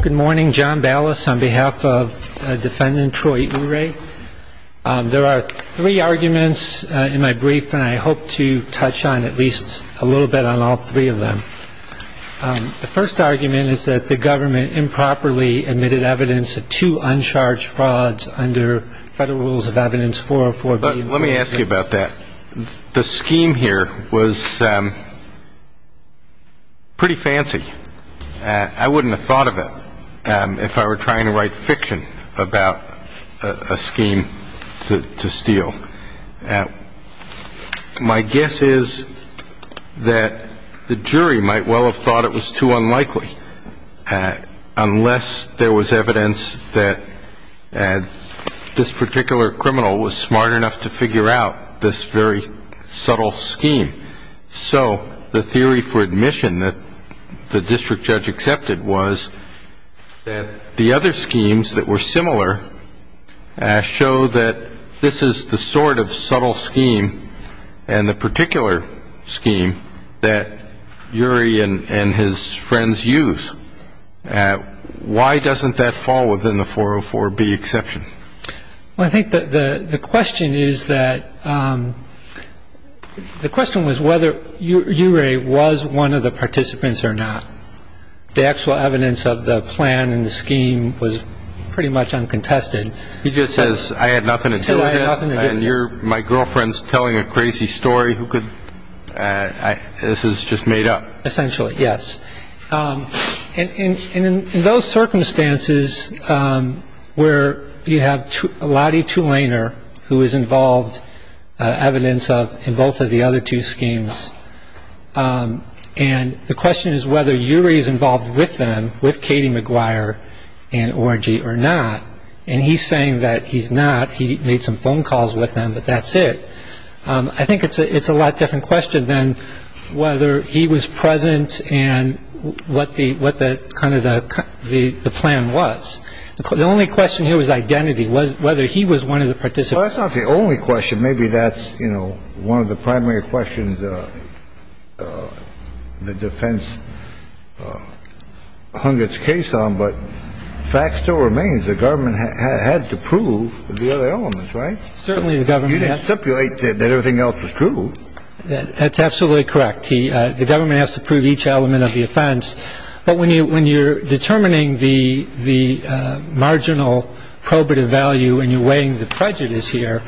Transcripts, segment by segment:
Good morning, John Ballas on behalf of defendant Troy Urie. There are three arguments in my brief and I hope to touch on at least a little bit on all three of them. The first argument is that the government improperly admitted evidence of two uncharged frauds under Federal Rules of Evidence 404B. Let me ask you about that. The scheme here was pretty fancy. I wouldn't have thought of it if I were trying to write fiction about a scheme to steal. My guess is that the jury might well have thought it was too unlikely unless there was evidence that this particular criminal was smart enough to figure out this very subtle scheme. So the theory for admission that the district judge accepted was that the other schemes that were similar show that this is the sort of subtle scheme and the particular scheme that Urie and his friends use. Why doesn't that fall within the 404B exception? Well, I think the question is whether Urie was one of the participants or not. The actual evidence of the plan and the scheme was pretty much uncontested. He just says, I had nothing to do with it and my girlfriend's telling a crazy story. This is just made up. Essentially, yes. And in those circumstances where you have Lottie Tulaner who is involved, evidence of both of the other two schemes, and the question is whether Urie is involved with them, with Katie McGuire and Orangy or not, and he's saying that he's not. He made some phone calls with them, but that's it. I think it's a it's a lot different question than whether he was present and what the what the kind of the plan was. The only question here was identity was whether he was one of the participants. Well, that's not the only question. Maybe that's, you know, one of the primary questions the defense hung its case on. But fact still remains, the government had to prove the other elements, right? Certainly the government has to. You didn't stipulate that everything else was true. That's absolutely correct. The government has to prove each element of the offense. But when you when you're determining the the marginal probative value and you're weighing the prejudice here,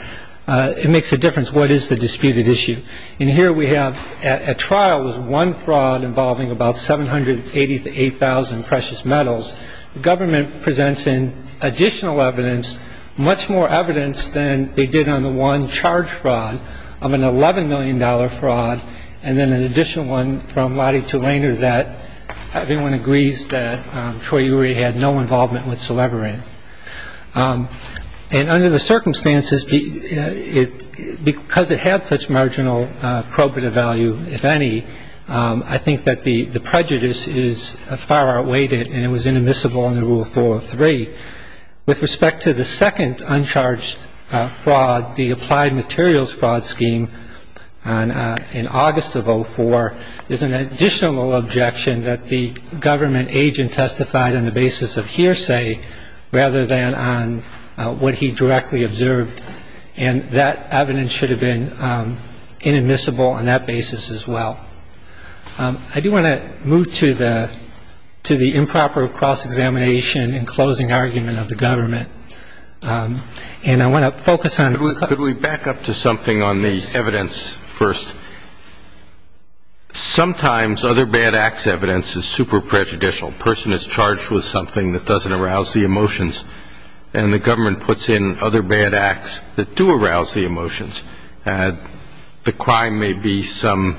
it makes a difference. What is the disputed issue? And here we have a trial with one fraud involving about seven hundred eighty eight thousand precious metals. The government presents in additional evidence, much more evidence than they did on the one charge fraud of an eleven million dollar fraud. And then an additional one from Lottie to Rainer that everyone agrees that Troy Urey had no involvement whatsoever in. And under the circumstances, because it had such marginal probative value, if any, I think that the prejudice is far outweighed and it was inadmissible in the rule for three. With respect to the second uncharged fraud, the applied materials fraud scheme in August of 04, there's an additional objection that the government agent testified on the basis of hearsay rather than on what he directly observed. And that evidence should have been inadmissible on that basis as well. I do want to move to the to the improper cross-examination and closing argument of the government, and I want to focus on. Could we back up to something on the evidence first? Sometimes other bad acts evidence is super prejudicial. A person is charged with something that doesn't arouse the emotions and the government puts in other bad acts that do arouse the emotions. The crime may be some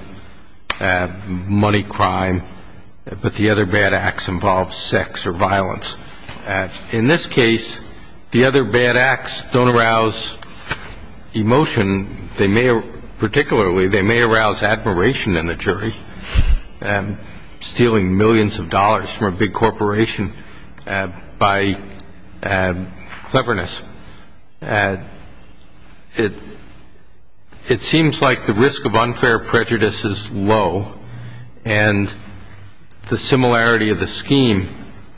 money crime, but the other bad acts involve sex or violence. In this case, the other bad acts don't arouse emotion. Particularly, they may arouse admiration in the jury, stealing millions of dollars from a big corporation by cleverness. And it seems like the risk of unfair prejudice is low and the similarity of the scheme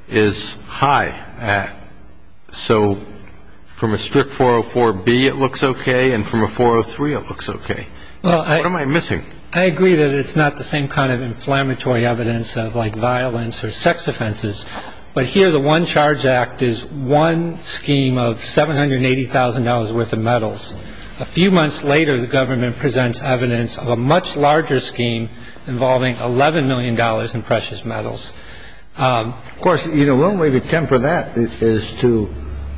is high. So from a strict 404B, it looks OK, and from a 403, it looks OK. What am I missing? I agree that it's not the same kind of inflammatory evidence of like violence or sex offenses. But here the one charge act is one scheme of seven hundred and eighty thousand dollars worth of metals. A few months later, the government presents evidence of a much larger scheme involving eleven million dollars in precious metals. Of course, you know, one way to temper that is to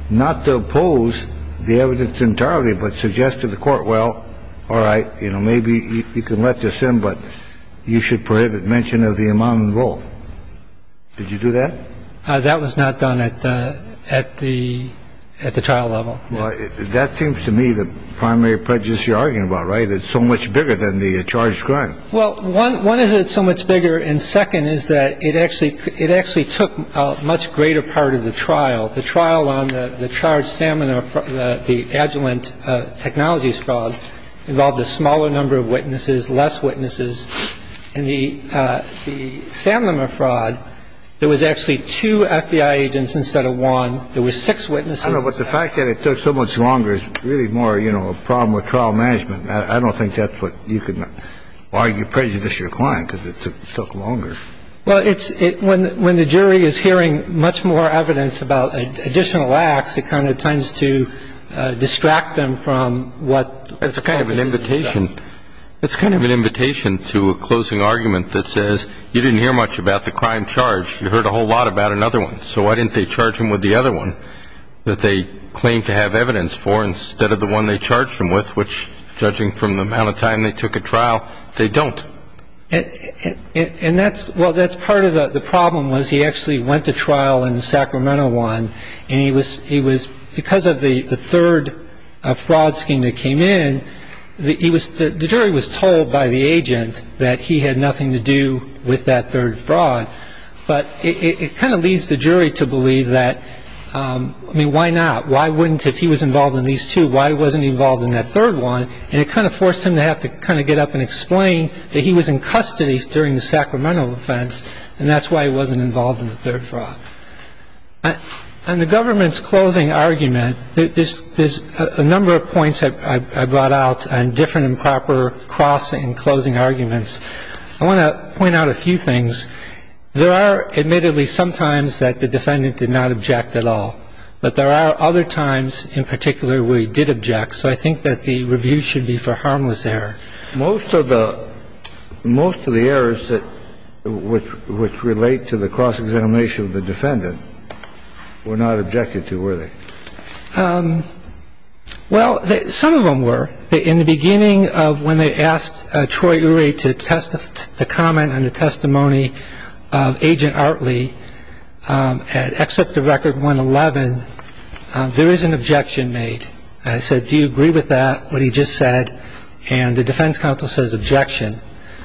not to oppose the evidence entirely, but suggest to the court, well, all right. You know, maybe you can let this in, but you should prohibit mention of the amount involved. So the other thing is, you know, the other thing is that the charge is so large that it's not done at the trial level. Did you do that? That was not done at the at the at the trial level. Well, that seems to me the primary prejudice you're arguing about. Right. It's so much bigger than the charge. Well, one one is it so much bigger. And second, is that it actually it actually took a much greater part of the trial. The trial on the charge, the Agilent Technologies Fraud, involved a smaller number of witnesses, less witnesses. In the Sanlima Fraud, there was actually two FBI agents instead of one. There were six witnesses. I know, but the fact that it took so much longer is really more, you know, a problem with trial management. I don't think that's what you can argue prejudices your client because it took longer. Well, it's when when the jury is hearing much more evidence about additional acts, it kind of tends to distract them from what. It's a kind of an invitation. It's kind of an invitation to a closing argument that says you didn't hear much about the crime charge. You heard a whole lot about another one. So why didn't they charge him with the other one that they claimed to have evidence for instead of the one they charged him with, which judging from the amount of time they took a trial, they don't. And that's well, that's part of the problem was he actually went to trial in the Sacramento one. And he was he was because of the third fraud scheme that came in. He was the jury was told by the agent that he had nothing to do with that third fraud. But it kind of leads the jury to believe that. I mean, why not? Why wouldn't if he was involved in these two? Why wasn't he involved in that third one? And it kind of forced him to have to kind of get up and explain that he was in custody during the Sacramento offense. And that's why he wasn't involved in the third fraud. And the government's closing argument, there's a number of points I brought out on different and proper crossing and closing arguments. I want to point out a few things. There are admittedly sometimes that the defendant did not object at all. But there are other times in particular where he did object. So I think that the review should be for harmless error. Most of the most of the errors that which relate to the cross-examination of the defendant were not objected to, were they? Well, some of them were. In the beginning of when they asked Troy Urey to test the comment and the testimony of Agent Artley, at Excerpt of Record 111, there is an objection made. I said, do you agree with that, what he just said? And the defense counsel says objection.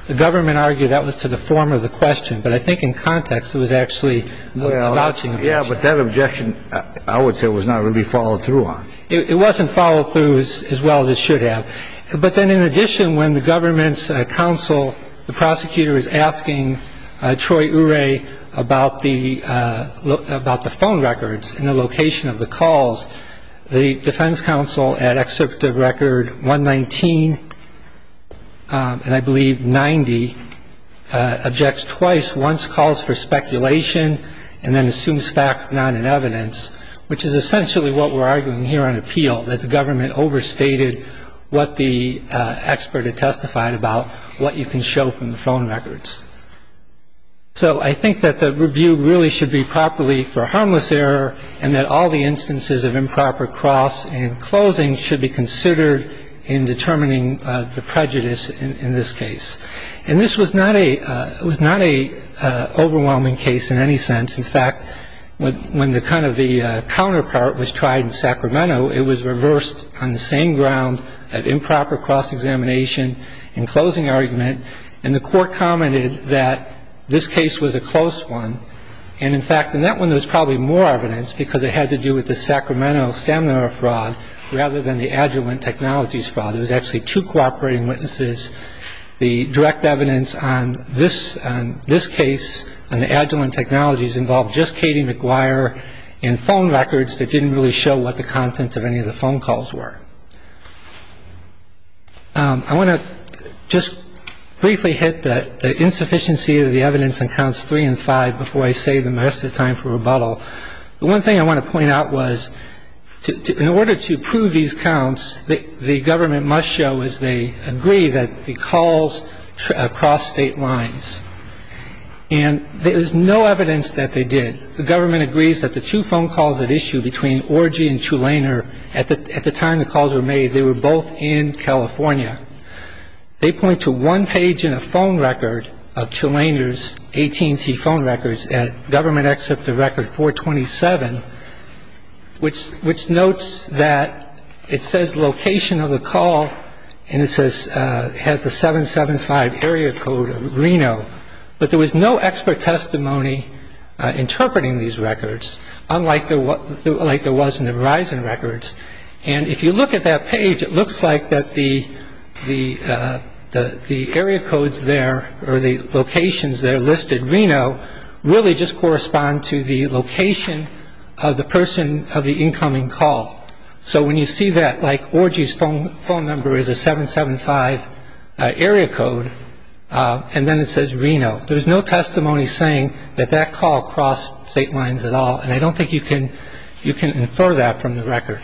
The government argued that was to the form of the question. But I think in context, it was actually a louching objection. Yeah, but that objection, I would say, was not really followed through on. It wasn't followed through as well as it should have. But then in addition, when the government's counsel, the prosecutor, is asking Troy Urey about the phone records and the location of the calls, the defense counsel at Excerpt of Record 119, and I believe 90, objects twice, once calls for speculation and then assumes facts not in evidence, which is essentially what we're arguing here on appeal, that the government overstated what the expert had testified about what you can show from the phone records. So I think that the review really should be properly for harmless error and that all the instances of improper cross and closing should be considered in determining the prejudice in this case. And this was not a overwhelming case in any sense. In fact, when the kind of the counterpart was tried in Sacramento, it was reversed on the same ground of improper cross-examination and closing argument. And the Court commented that this case was a close one. And in fact, in that one, there was probably more evidence because it had to do with the Sacramento stamina fraud rather than the Agilent Technologies fraud. There was actually two cooperating witnesses. The direct evidence on this case, on the Agilent Technologies, involved just Katie McGuire and phone records that didn't really show what the content of any of the phone calls were. I want to just briefly hit the insufficiency of the evidence in counts three and five before I save the rest of the time for rebuttal. The one thing I want to point out was in order to prove these counts, the government must show, as they agree, that the calls crossed state lines. And there is no evidence that they did. The government agrees that the two phone calls at issue between Orgy and Tulaner at the time the calls were made, they were both in California. They point to one page in a phone record of Tulaner's AT&T phone records at Government Excerpt of Record 427, which notes that it says location of the call and it has the 775 area code of Reno. But there was no expert testimony interpreting these records, unlike there was in the Verizon records. And if you look at that page, it looks like that the area codes there or the locations there listed Reno really just correspond to the location of the person of the incoming call. So when you see that, like Orgy's phone number is a 775 area code, and then it says Reno, there's no testimony saying that that call crossed state lines at all. And I don't think you can infer that from the record.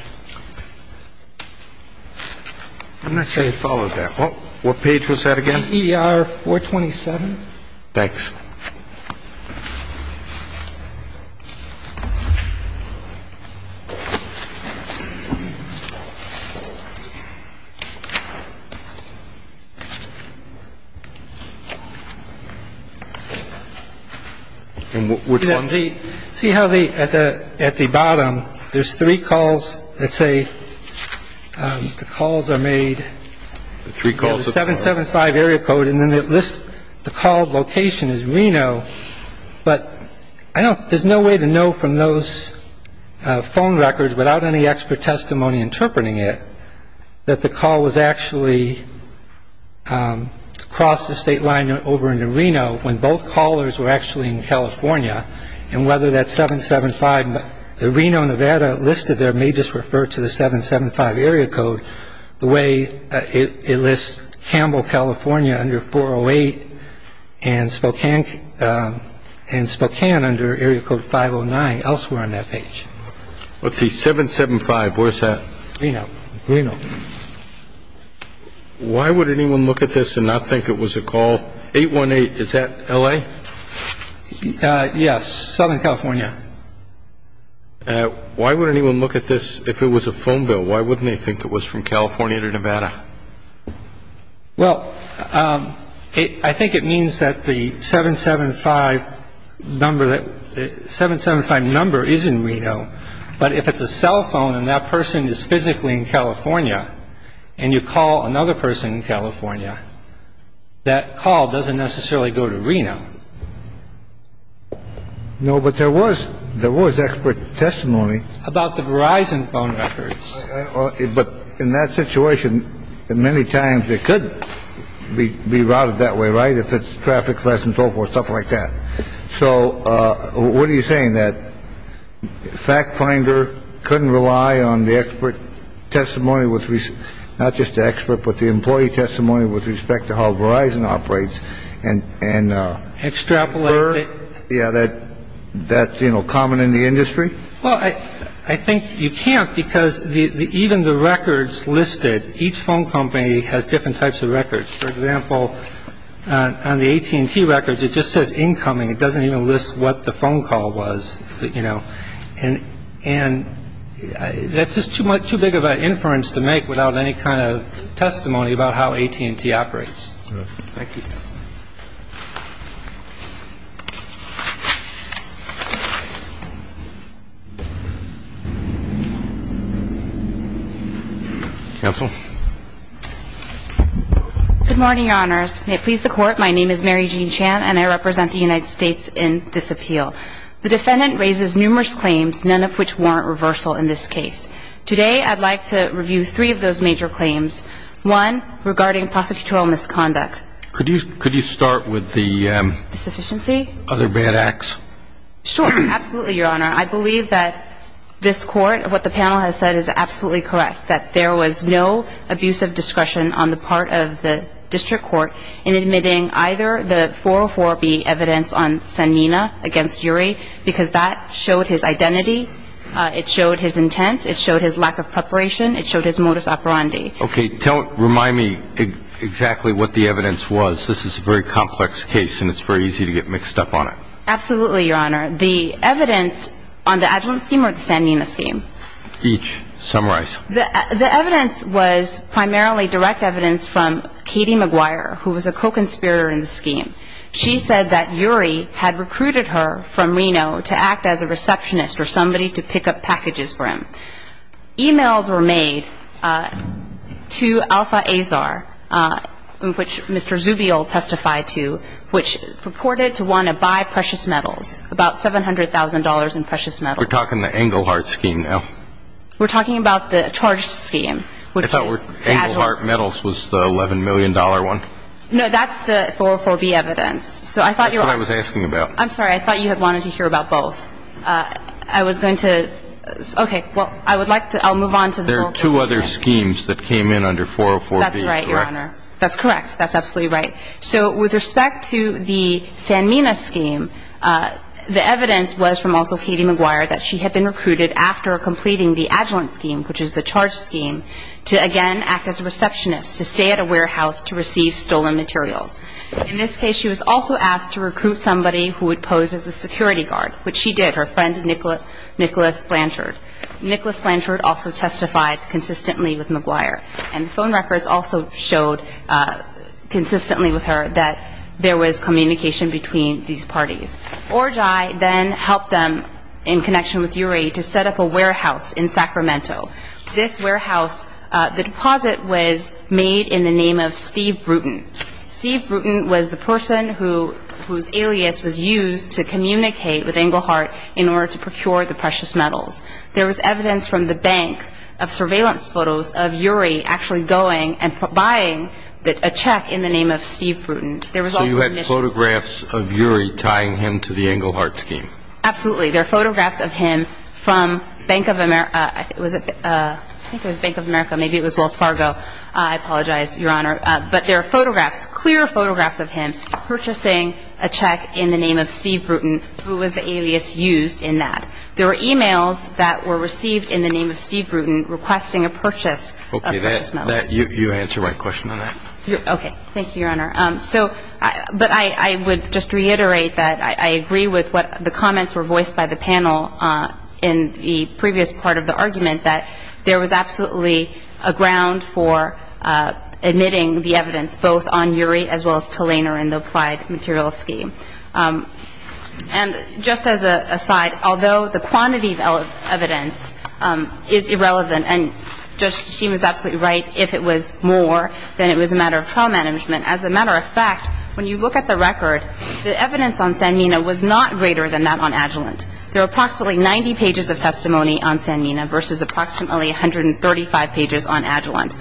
I'm not sure you followed that. What page was that again? ER 427. Thanks. And which one? See how at the bottom there's three calls that say the calls are made. Three calls. The 775 area code and then it lists the call location as Reno. But I don't – there's no way to know from those phone records without any expert testimony interpreting it that the call was actually crossed the state line over into Reno when both callers were actually in California. And whether that 775 Reno, Nevada listed there may just refer to the 775 area code the way it lists Campbell, California under 408 and Spokane under area code 509 elsewhere on that page. Let's see. 775, where's that? Reno. Reno. Why would anyone look at this and not think it was a call? 818, is that L.A.? Yes. Southern California. Why would anyone look at this if it was a phone bill? Well, I think it means that the 775 number that – the 775 number is in Reno. But if it's a cell phone and that person is physically in California and you call another person in California, that call doesn't necessarily go to Reno. No, but there was – there was expert testimony. About the Verizon phone records. But in that situation, many times it could be routed that way, right, if it's traffic less and so forth, stuff like that. So what are you saying, that FactFinder couldn't rely on the expert testimony with – not just the expert, but the employee testimony with respect to how Verizon operates and – Extrapolate. Yeah, that's, you know, common in the industry? Well, I think you can't because even the records listed, each phone company has different types of records. For example, on the AT&T records, it just says incoming. It doesn't even list what the phone call was, you know. And that's just too big of an inference to make without any kind of testimony about how AT&T operates. Thank you. Counsel. Good morning, Your Honors. May it please the Court, my name is Mary Jean Chan and I represent the United States in this appeal. The defendant raises numerous claims, none of which warrant reversal in this case. Today I'd like to review three of those major claims. One, regarding prosecutorial misconduct. Could you start with the – The sufficiency? Other bad acts? Sure, absolutely, Your Honor. I believe that this Court, what the panel has said is absolutely correct, that there was no abusive discretion on the part of the district court in admitting either the 404B evidence on Sanmina against Yuri because that showed his identity, it showed his intent, it showed his lack of preparation, it showed his modus operandi. Okay. Remind me exactly what the evidence was. This is a very complex case and it's very easy to get mixed up on it. Absolutely, Your Honor. The evidence on the Agilent scheme or the Sanmina scheme? Each. Summarize. The evidence was primarily direct evidence from Katie McGuire, who was a co-conspirator in the scheme. She said that Yuri had recruited her from Reno to act as a receptionist or somebody to pick up packages for him. Emails were made to Alpha Azar, which Mr. Zubio testified to, which purported to want to buy precious metals, about $700,000 in precious metals. We're talking the Engelhardt scheme now. We're talking about the charged scheme, which is Agilent's. I thought Engelhardt metals was the $11 million one. No, that's the 404B evidence. That's what I was asking about. I'm sorry. I thought you had wanted to hear about both. I was going to. Okay. Well, I would like to. I'll move on. There are two other schemes that came in under 404B, correct? That's right, Your Honor. That's correct. That's absolutely right. So with respect to the Sanmina scheme, the evidence was from also Katie McGuire that she had been recruited after completing the Agilent scheme, which is the charged scheme, to, again, act as a receptionist, to stay at a warehouse to receive stolen materials. In this case, she was also asked to recruit somebody who would pose as a security guard, which she did, her friend Nicholas Blanchard. Nicholas Blanchard also testified consistently with McGuire, and phone records also showed consistently with her that there was communication between these parties. Orji then helped them, in connection with Uri, to set up a warehouse in Sacramento. This warehouse, the deposit was made in the name of Steve Bruton. Steve Bruton was the person whose alias was used to communicate with Engelhardt in order to procure the precious metals. There was evidence from the bank of surveillance photos of Uri actually going and buying a check in the name of Steve Bruton. So you had photographs of Uri tying him to the Engelhardt scheme? Absolutely. There are photographs of him from Bank of America. I think it was Bank of America. Maybe it was Wells Fargo. I apologize, Your Honor. But there are photographs, clear photographs of him purchasing a check in the name of Steve Bruton, who was the alias used in that. There were e-mails that were received in the name of Steve Bruton requesting a purchase of precious metals. Okay. You answered my question on that. Okay. Thank you, Your Honor. So, but I would just reiterate that I agree with what the comments were voiced by the panel in the previous part of the argument, that there was absolutely a ground for admitting the evidence both on Uri as well as to Lehner in the applied material scheme. And just as an aside, although the quantity of evidence is irrelevant, and Judge Kishima is absolutely right, if it was more, then it was a matter of trial management. As a matter of fact, when you look at the record, the evidence on Sanmina was not greater than that on Agilent. There are approximately 90 pages of testimony on Sanmina versus approximately 135 pages on Agilent.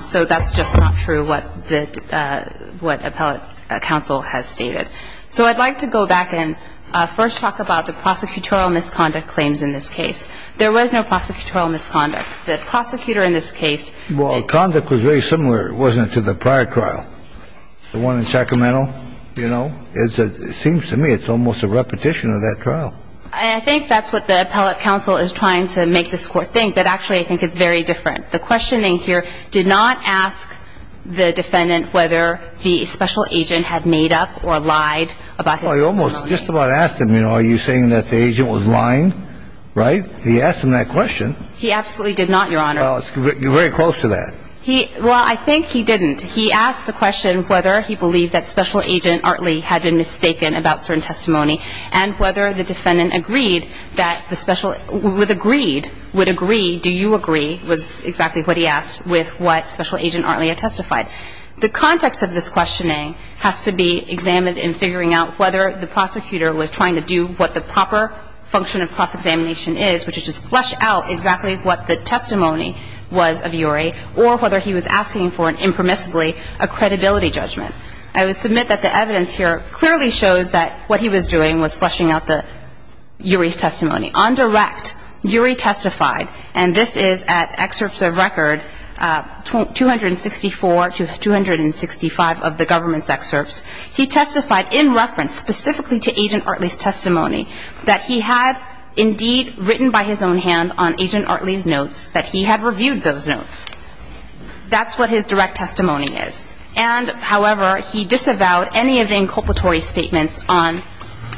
So that's just not true what the – what appellate counsel has stated. So I'd like to go back and first talk about the prosecutorial misconduct claims in this case. There was no prosecutorial misconduct. The prosecutor in this case did – Well, conduct was very similar, wasn't it, to the prior trial, the one in Sacramento, you know? It seems to me it's almost a repetition of that trial. And I think that's what the appellate counsel is trying to make this Court think. But actually, I think it's very different. The questioning here did not ask the defendant whether the special agent had made up or lied about his testimony. Well, he almost – just about asked him, you know, are you saying that the agent was lying, right? He asked him that question. He absolutely did not, Your Honor. Well, it's very close to that. He – well, I think he didn't. He asked the question whether he believed that special agent Artley had been mistaken about certain testimony and whether the defendant agreed that the special – would agree – would agree, do you agree, was exactly what he asked, with what special agent Artley had testified. The context of this questioning has to be examined in figuring out whether the prosecutor was trying to do what the proper function of cross-examination is, which is just flesh out exactly what the testimony was of Urey, or whether he was asking for, impermissibly, a credibility judgment. I would submit that the evidence here clearly shows that what he was doing was fleshing out Urey's testimony. On direct, Urey testified, and this is at excerpts of record 264 to 265 of the government's excerpts. He testified in reference specifically to agent Artley's testimony that he had indeed written by his own hand on agent Artley's notes that he had reviewed those notes. That's what his direct testimony is. And, however, he disavowed any of the inculpatory statements on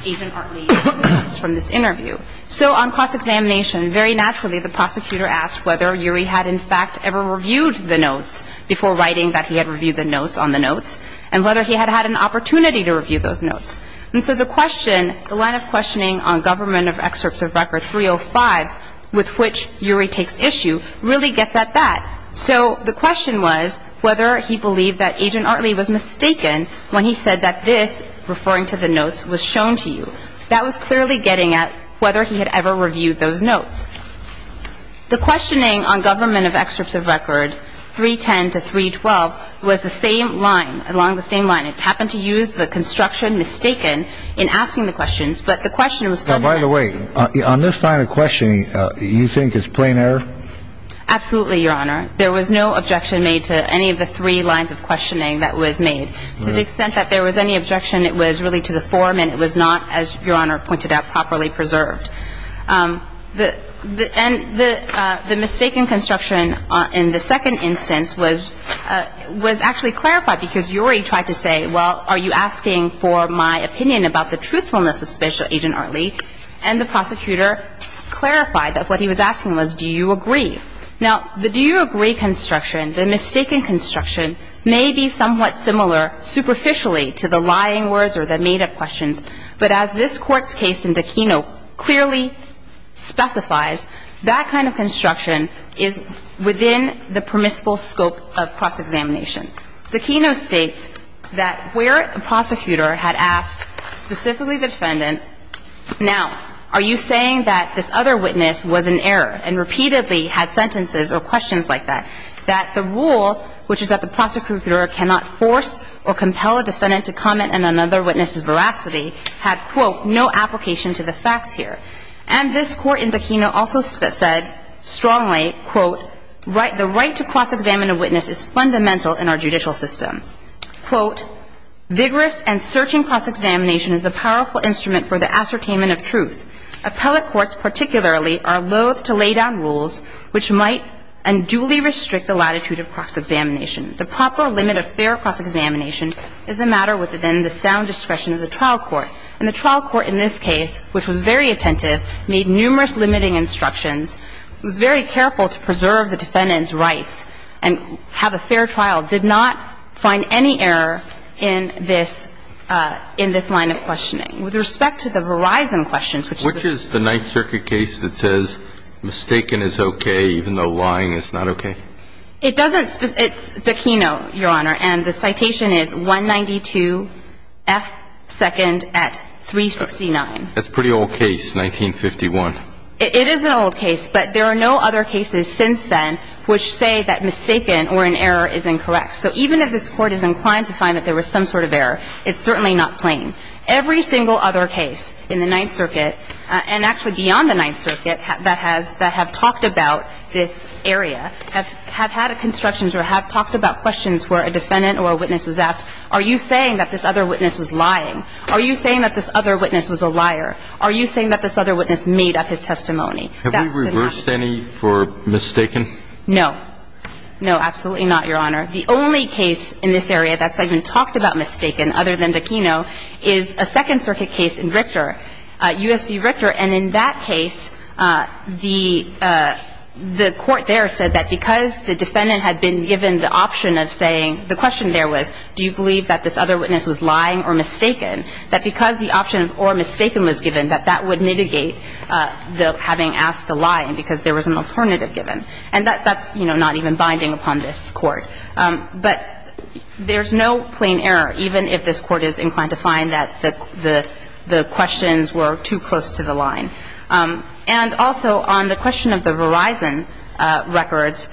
agent Artley's notes from this interview. So on cross-examination, very naturally the prosecutor asked whether Urey had, in fact, ever reviewed the notes before writing that he had reviewed the notes on the notes and whether he had had an opportunity to review those notes. And so the question, the line of questioning on government of excerpts of record 305 with which Urey takes issue really gets at that. So the question was whether he believed that agent Artley was mistaken when he said that this, referring to the notes, was shown to you. That was clearly getting at whether he had ever reviewed those notes. The questioning on government of excerpts of record 310 to 312 was the same line, along the same line. It happened to use the construction mistaken in asking the questions, but the question was still there. By the way, on this line of questioning, you think it's plain error? Absolutely, Your Honor. There was no objection made to any of the three lines of questioning that was made. To the extent that there was any objection, it was really to the form and it was not, as Your Honor pointed out, properly preserved. And the mistaken construction in the second instance was actually clarified because Urey tried to say, well, are you asking for my opinion about the truthfulness of Special Agent Artley? And the prosecutor clarified that what he was asking was, do you agree? Now, the do you agree construction, the mistaken construction, may be somewhat similar superficially to the lying words or the made-up questions. But as this Court's case in Dacino clearly specifies, that kind of construction is within the permissible scope of cross-examination. Dacino states that where a prosecutor had asked specifically the defendant, now, are you saying that this other witness was in error and repeatedly had sentences or questions like that, that the rule, which is that the prosecutor cannot force or compel a defendant to comment on another witness's veracity, had, quote, no application to the facts here. And this Court in Dacino also said strongly, quote, that the right to cross-examine a witness is fundamental in our judicial system. Quote, Vigorous and searching cross-examination is a powerful instrument for the ascertainment of truth. Appellate courts particularly are loath to lay down rules which might unduly restrict the latitude of cross-examination. The proper limit of fair cross-examination is a matter within the sound discretion of the trial court. And the trial court in this case, which was very attentive, made numerous limiting instructions, was very careful to preserve the defendant's rights and have a fair trial, did not find any error in this line of questioning. With respect to the Verizon questions, which is the Ninth Circuit case that says mistaken is okay even though lying is not okay? It doesn't. It's Dacino, Your Honor. And the citation is 192 F. 2nd at 369. That's a pretty old case, 1951. It is an old case, but there are no other cases since then which say that mistaken or an error is incorrect. So even if this Court is inclined to find that there was some sort of error, it's certainly not plain. Every single other case in the Ninth Circuit, and actually beyond the Ninth Circuit that has – that have talked about this area, have had constructions or have talked about questions where a defendant or a witness was asked, are you saying that this Are you saying that this other witness was a liar? Are you saying that this other witness made up his testimony? Have we reversed any for mistaken? No. No, absolutely not, Your Honor. The only case in this area that's even talked about mistaken, other than Dacino, is a Second Circuit case in Richter, U.S. v. Richter. And in that case, the court there said that because the defendant had been given the option of saying – the question there was do you believe that this other witness was lying or mistaken, that because the option of or mistaken was given, that that would mitigate the having asked the lying because there was an alternative given. And that's, you know, not even binding upon this Court. But there's no plain error, even if this Court is inclined to find that the questions were too close to the line. And also on the question of the Verizon records,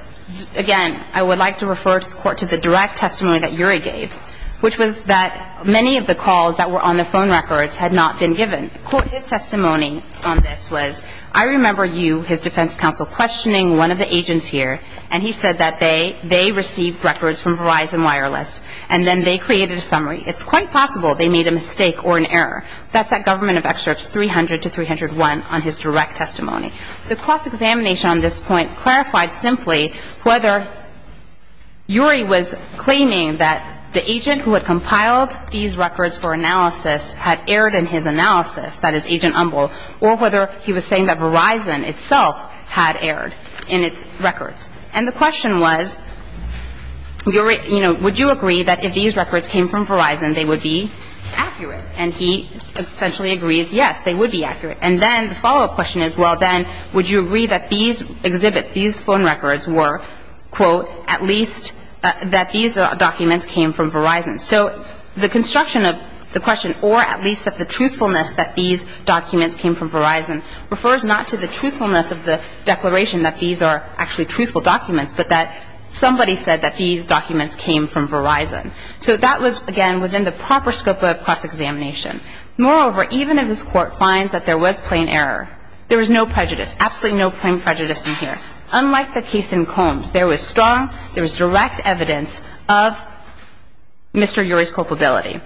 again, I would like to refer to the direct testimony that Urey gave, which was that many of the calls that were on the phone records had not been given. His testimony on this was, I remember you, his defense counsel, questioning one of the agents here, and he said that they received records from Verizon Wireless, and then they created a summary. It's quite possible they made a mistake or an error. That's at Government of Excerpts 300 to 301 on his direct testimony. The cross-examination on this point clarified simply whether Urey was claiming that the agent who had compiled these records for analysis had erred in his analysis, that is, Agent Umbel, or whether he was saying that Verizon itself had erred in its records. And the question was, you know, would you agree that if these records came from Verizon, they would be accurate? And he essentially agrees, yes, they would be accurate. And then the follow-up question is, well, then, would you agree that these exhibits, these phone records were, quote, at least that these documents came from Verizon? So the construction of the question, or at least that the truthfulness that these documents came from Verizon, refers not to the truthfulness of the declaration that these are actually truthful documents, but that somebody said that these documents came from Verizon. So that was, again, within the proper scope of cross-examination. Moreover, even if this Court finds that there was plain error, there was no prejudice, absolutely no plain prejudice in here. Unlike the case in Combs, there was strong, there was direct evidence of Mr. Urey's culpability.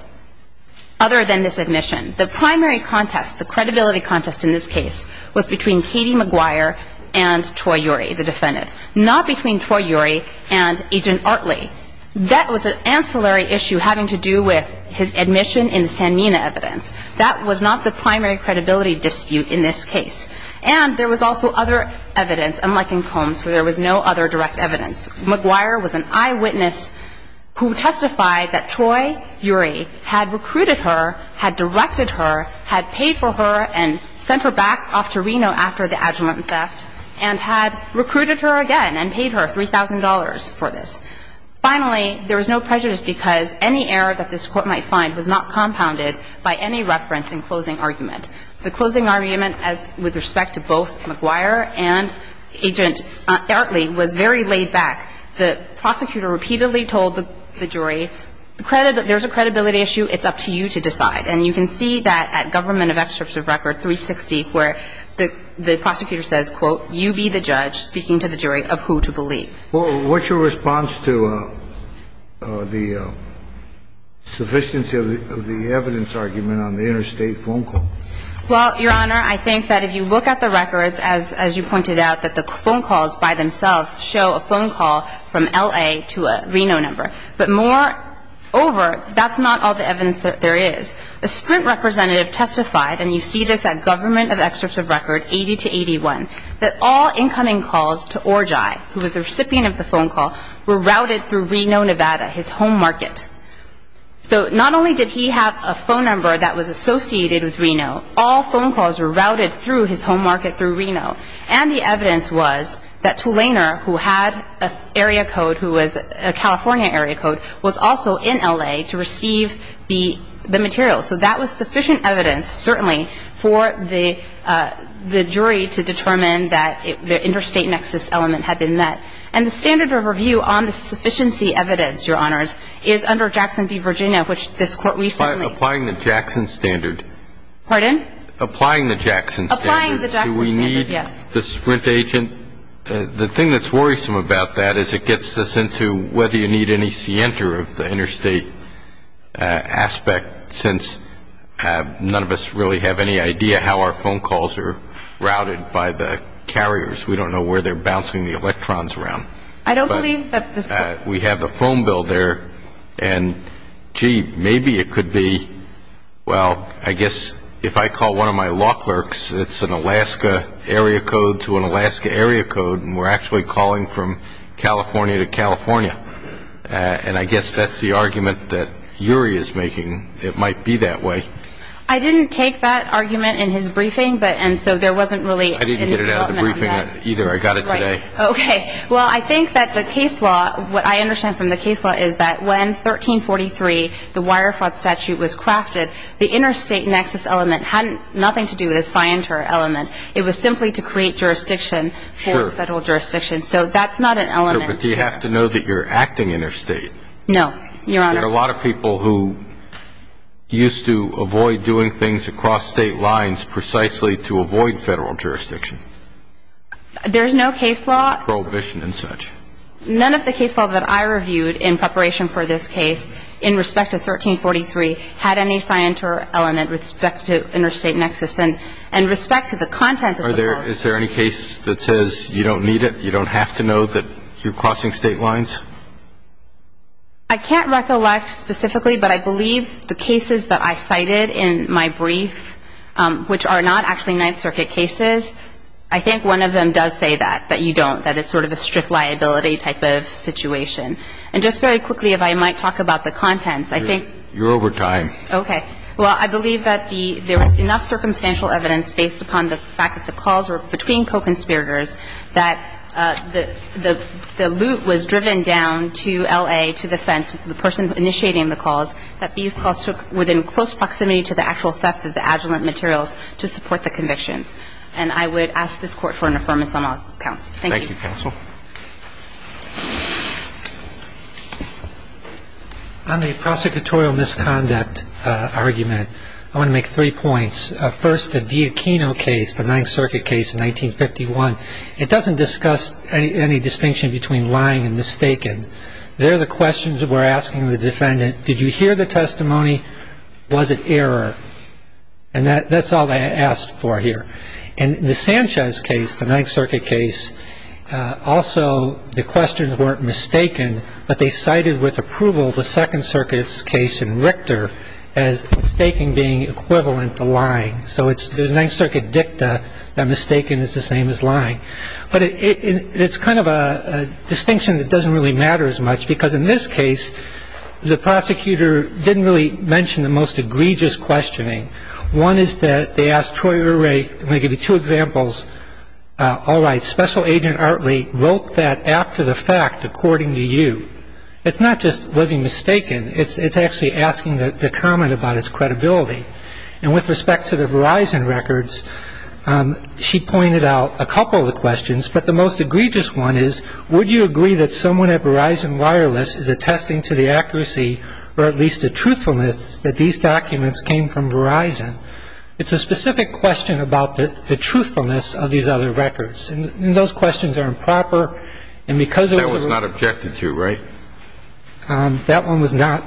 Other than this admission, the primary contest, the credibility contest in this case, was between Katie McGuire and Troy Urey, the defendant, not between Troy Urey and Agent Artley. That was an ancillary issue having to do with his admission in the Sanmina evidence. That was not the primary credibility dispute in this case. And there was also other evidence, unlike in Combs, where there was no other direct evidence. McGuire was an eyewitness who testified that Troy Urey had recruited her, had directed her, had paid for her, and sent her back off to Reno after the adjuvant theft, and had recruited her again and paid her $3,000 for this. Finally, there was no prejudice because any error that this Court might find was not compounded by any reference in closing argument. The closing argument, as with respect to both McGuire and Agent Artley, was very laid back. The prosecutor repeatedly told the jury, there's a credibility issue, it's up to you to decide. And you can see that at Government of Excerpts of Record 360, where the prosecutor says, quote, you be the judge, speaking to the jury of who to believe. Well, what's your response to the sufficiency of the evidence argument on the interstate phone call? Well, Your Honor, I think that if you look at the records, as you pointed out, that the phone calls by themselves show a phone call from L.A. to a Reno number. But moreover, that's not all the evidence that there is. A Sprint representative testified, and you see this at Government of Excerpts of Record 80 to 81, that all incoming calls to Orji, who was the recipient of the phone call, were routed through Reno, Nevada, his home market. So not only did he have a phone number that was associated with Reno, all phone calls were routed through his home market through Reno. And the evidence was that Tulaner, who had an area code, who was a California area code, was also in L.A. to receive the material. So that was sufficient evidence, certainly, for the jury to determine that the interstate nexus element had been met. And the standard of review on the sufficiency evidence, Your Honors, is under Jackson v. Virginia, which this Court recently ---- Applying the Jackson standard. Pardon? Applying the Jackson standard. Applying the Jackson standard, yes. Do we need the Sprint agent? The thing that's worrisome about that is it gets us into whether you need an ECNTR of the interstate aspect since none of us really have any idea how our phone calls are routed by the carriers. We don't know where they're bouncing the electrons around. I don't believe that this Court ---- We have the phone bill there, and gee, maybe it could be, well, I guess if I call one of my law clerks, it's an Alaska area code to an Alaska area code, and we're actually calling from California to California. And I guess that's the argument that Urey is making. It might be that way. I didn't take that argument in his briefing, and so there wasn't really any development on that. I didn't get it out of the briefing either. I got it today. Right. Okay. Well, I think that the case law, what I understand from the case law is that when 1343, the Wire Fraud Statute was crafted, the interstate nexus element had nothing to do with a SCIENTR element. It was simply to create jurisdiction for federal jurisdiction. Sure. So that's not an element. But you have to know that you're acting interstate. No, Your Honor. There are a lot of people who used to avoid doing things across state lines precisely to avoid federal jurisdiction. There's no case law ---- Prohibition and such. None of the case law that I reviewed in preparation for this case in respect to 1343 had any SCIENTR element with respect to interstate nexus. And with respect to the contents of the law ---- Your Honor, is there any case that says you don't need it, you don't have to know that you're crossing state lines? I can't recollect specifically, but I believe the cases that I cited in my brief, which are not actually Ninth Circuit cases, I think one of them does say that, that you don't, that it's sort of a strict liability type of situation. And just very quickly, if I might talk about the contents, I think ---- You're over time. Okay. Well, I believe that the ---- there was enough circumstantial evidence based upon the fact that the calls were between co-conspirators, that the loot was driven down to L.A., to the fence, the person initiating the calls, that these calls took within close proximity to the actual theft of the adjuvant materials to support the convictions. And I would ask this Court for an affirmation on all accounts. Thank you. Thank you, counsel. On the prosecutorial misconduct argument, I want to make three points. First, the DiAquino case, the Ninth Circuit case in 1951, it doesn't discuss any distinction between lying and mistaken. They're the questions we're asking the defendant, did you hear the testimony? Was it error? And that's all they asked for here. And the Sanchez case, the Ninth Circuit case, also the questions weren't mistaken, but they cited with approval the Second Circuit's case in Richter as mistaken being equivalent to lying. So it's the Ninth Circuit dicta that mistaken is the same as lying. But it's kind of a distinction that doesn't really matter as much, because in this case, the prosecutor didn't really mention the most egregious questioning. One is that they asked Troy O'Reilly, I'm going to give you two examples. All right, Special Agent Artley wrote that after the fact according to you. It's not just was he mistaken, it's actually asking the comment about his credibility. And with respect to the Verizon records, she pointed out a couple of the questions, but the most egregious one is, would you agree that someone at Verizon Wireless is attesting to the accuracy or at least the truthfulness that these documents came from Verizon? It's a specific question about the truthfulness of these other records. And those questions are improper. And because of the rules. That was not objected to, right? That one was not.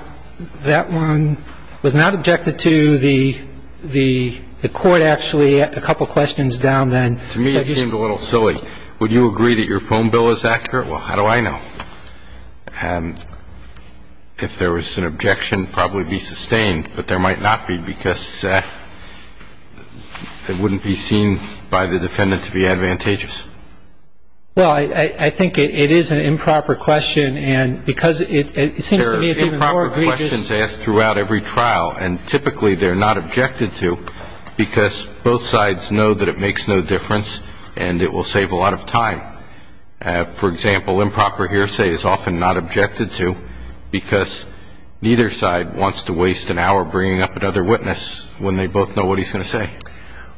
That one was not objected to. The court actually had a couple questions down then. To me, it seemed a little silly. Would you agree that your phone bill is accurate? Well, how do I know? If there was an objection, probably be sustained. But there might not be because it wouldn't be seen by the defendant to be advantageous. Well, I think it is an improper question. And because it seems to me it's even more egregious. There are improper questions asked throughout every trial. And typically they're not objected to because both sides know that it makes no difference and it will save a lot of time. For example, improper hearsay is often not objected to because neither side wants to waste an hour bringing up another witness when they both know what he's going to say.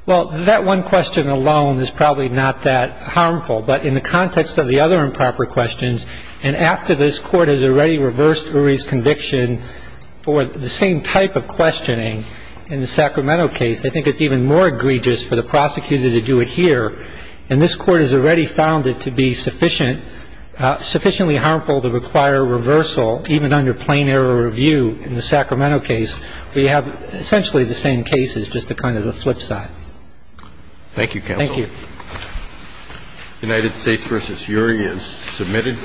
Well, that one question alone is probably not that harmful. But in the context of the other improper questions, and after this court has already reversed Uri's conviction for the same type of questioning in the Sacramento case, I think it's even more egregious for the prosecutor to do it here. And this court has already found it to be sufficiently harmful to require reversal, even under plain error review in the Sacramento case, where you have essentially the same cases, just kind of the flip side. Thank you, counsel. Thank you. United States v. Uri is submitted.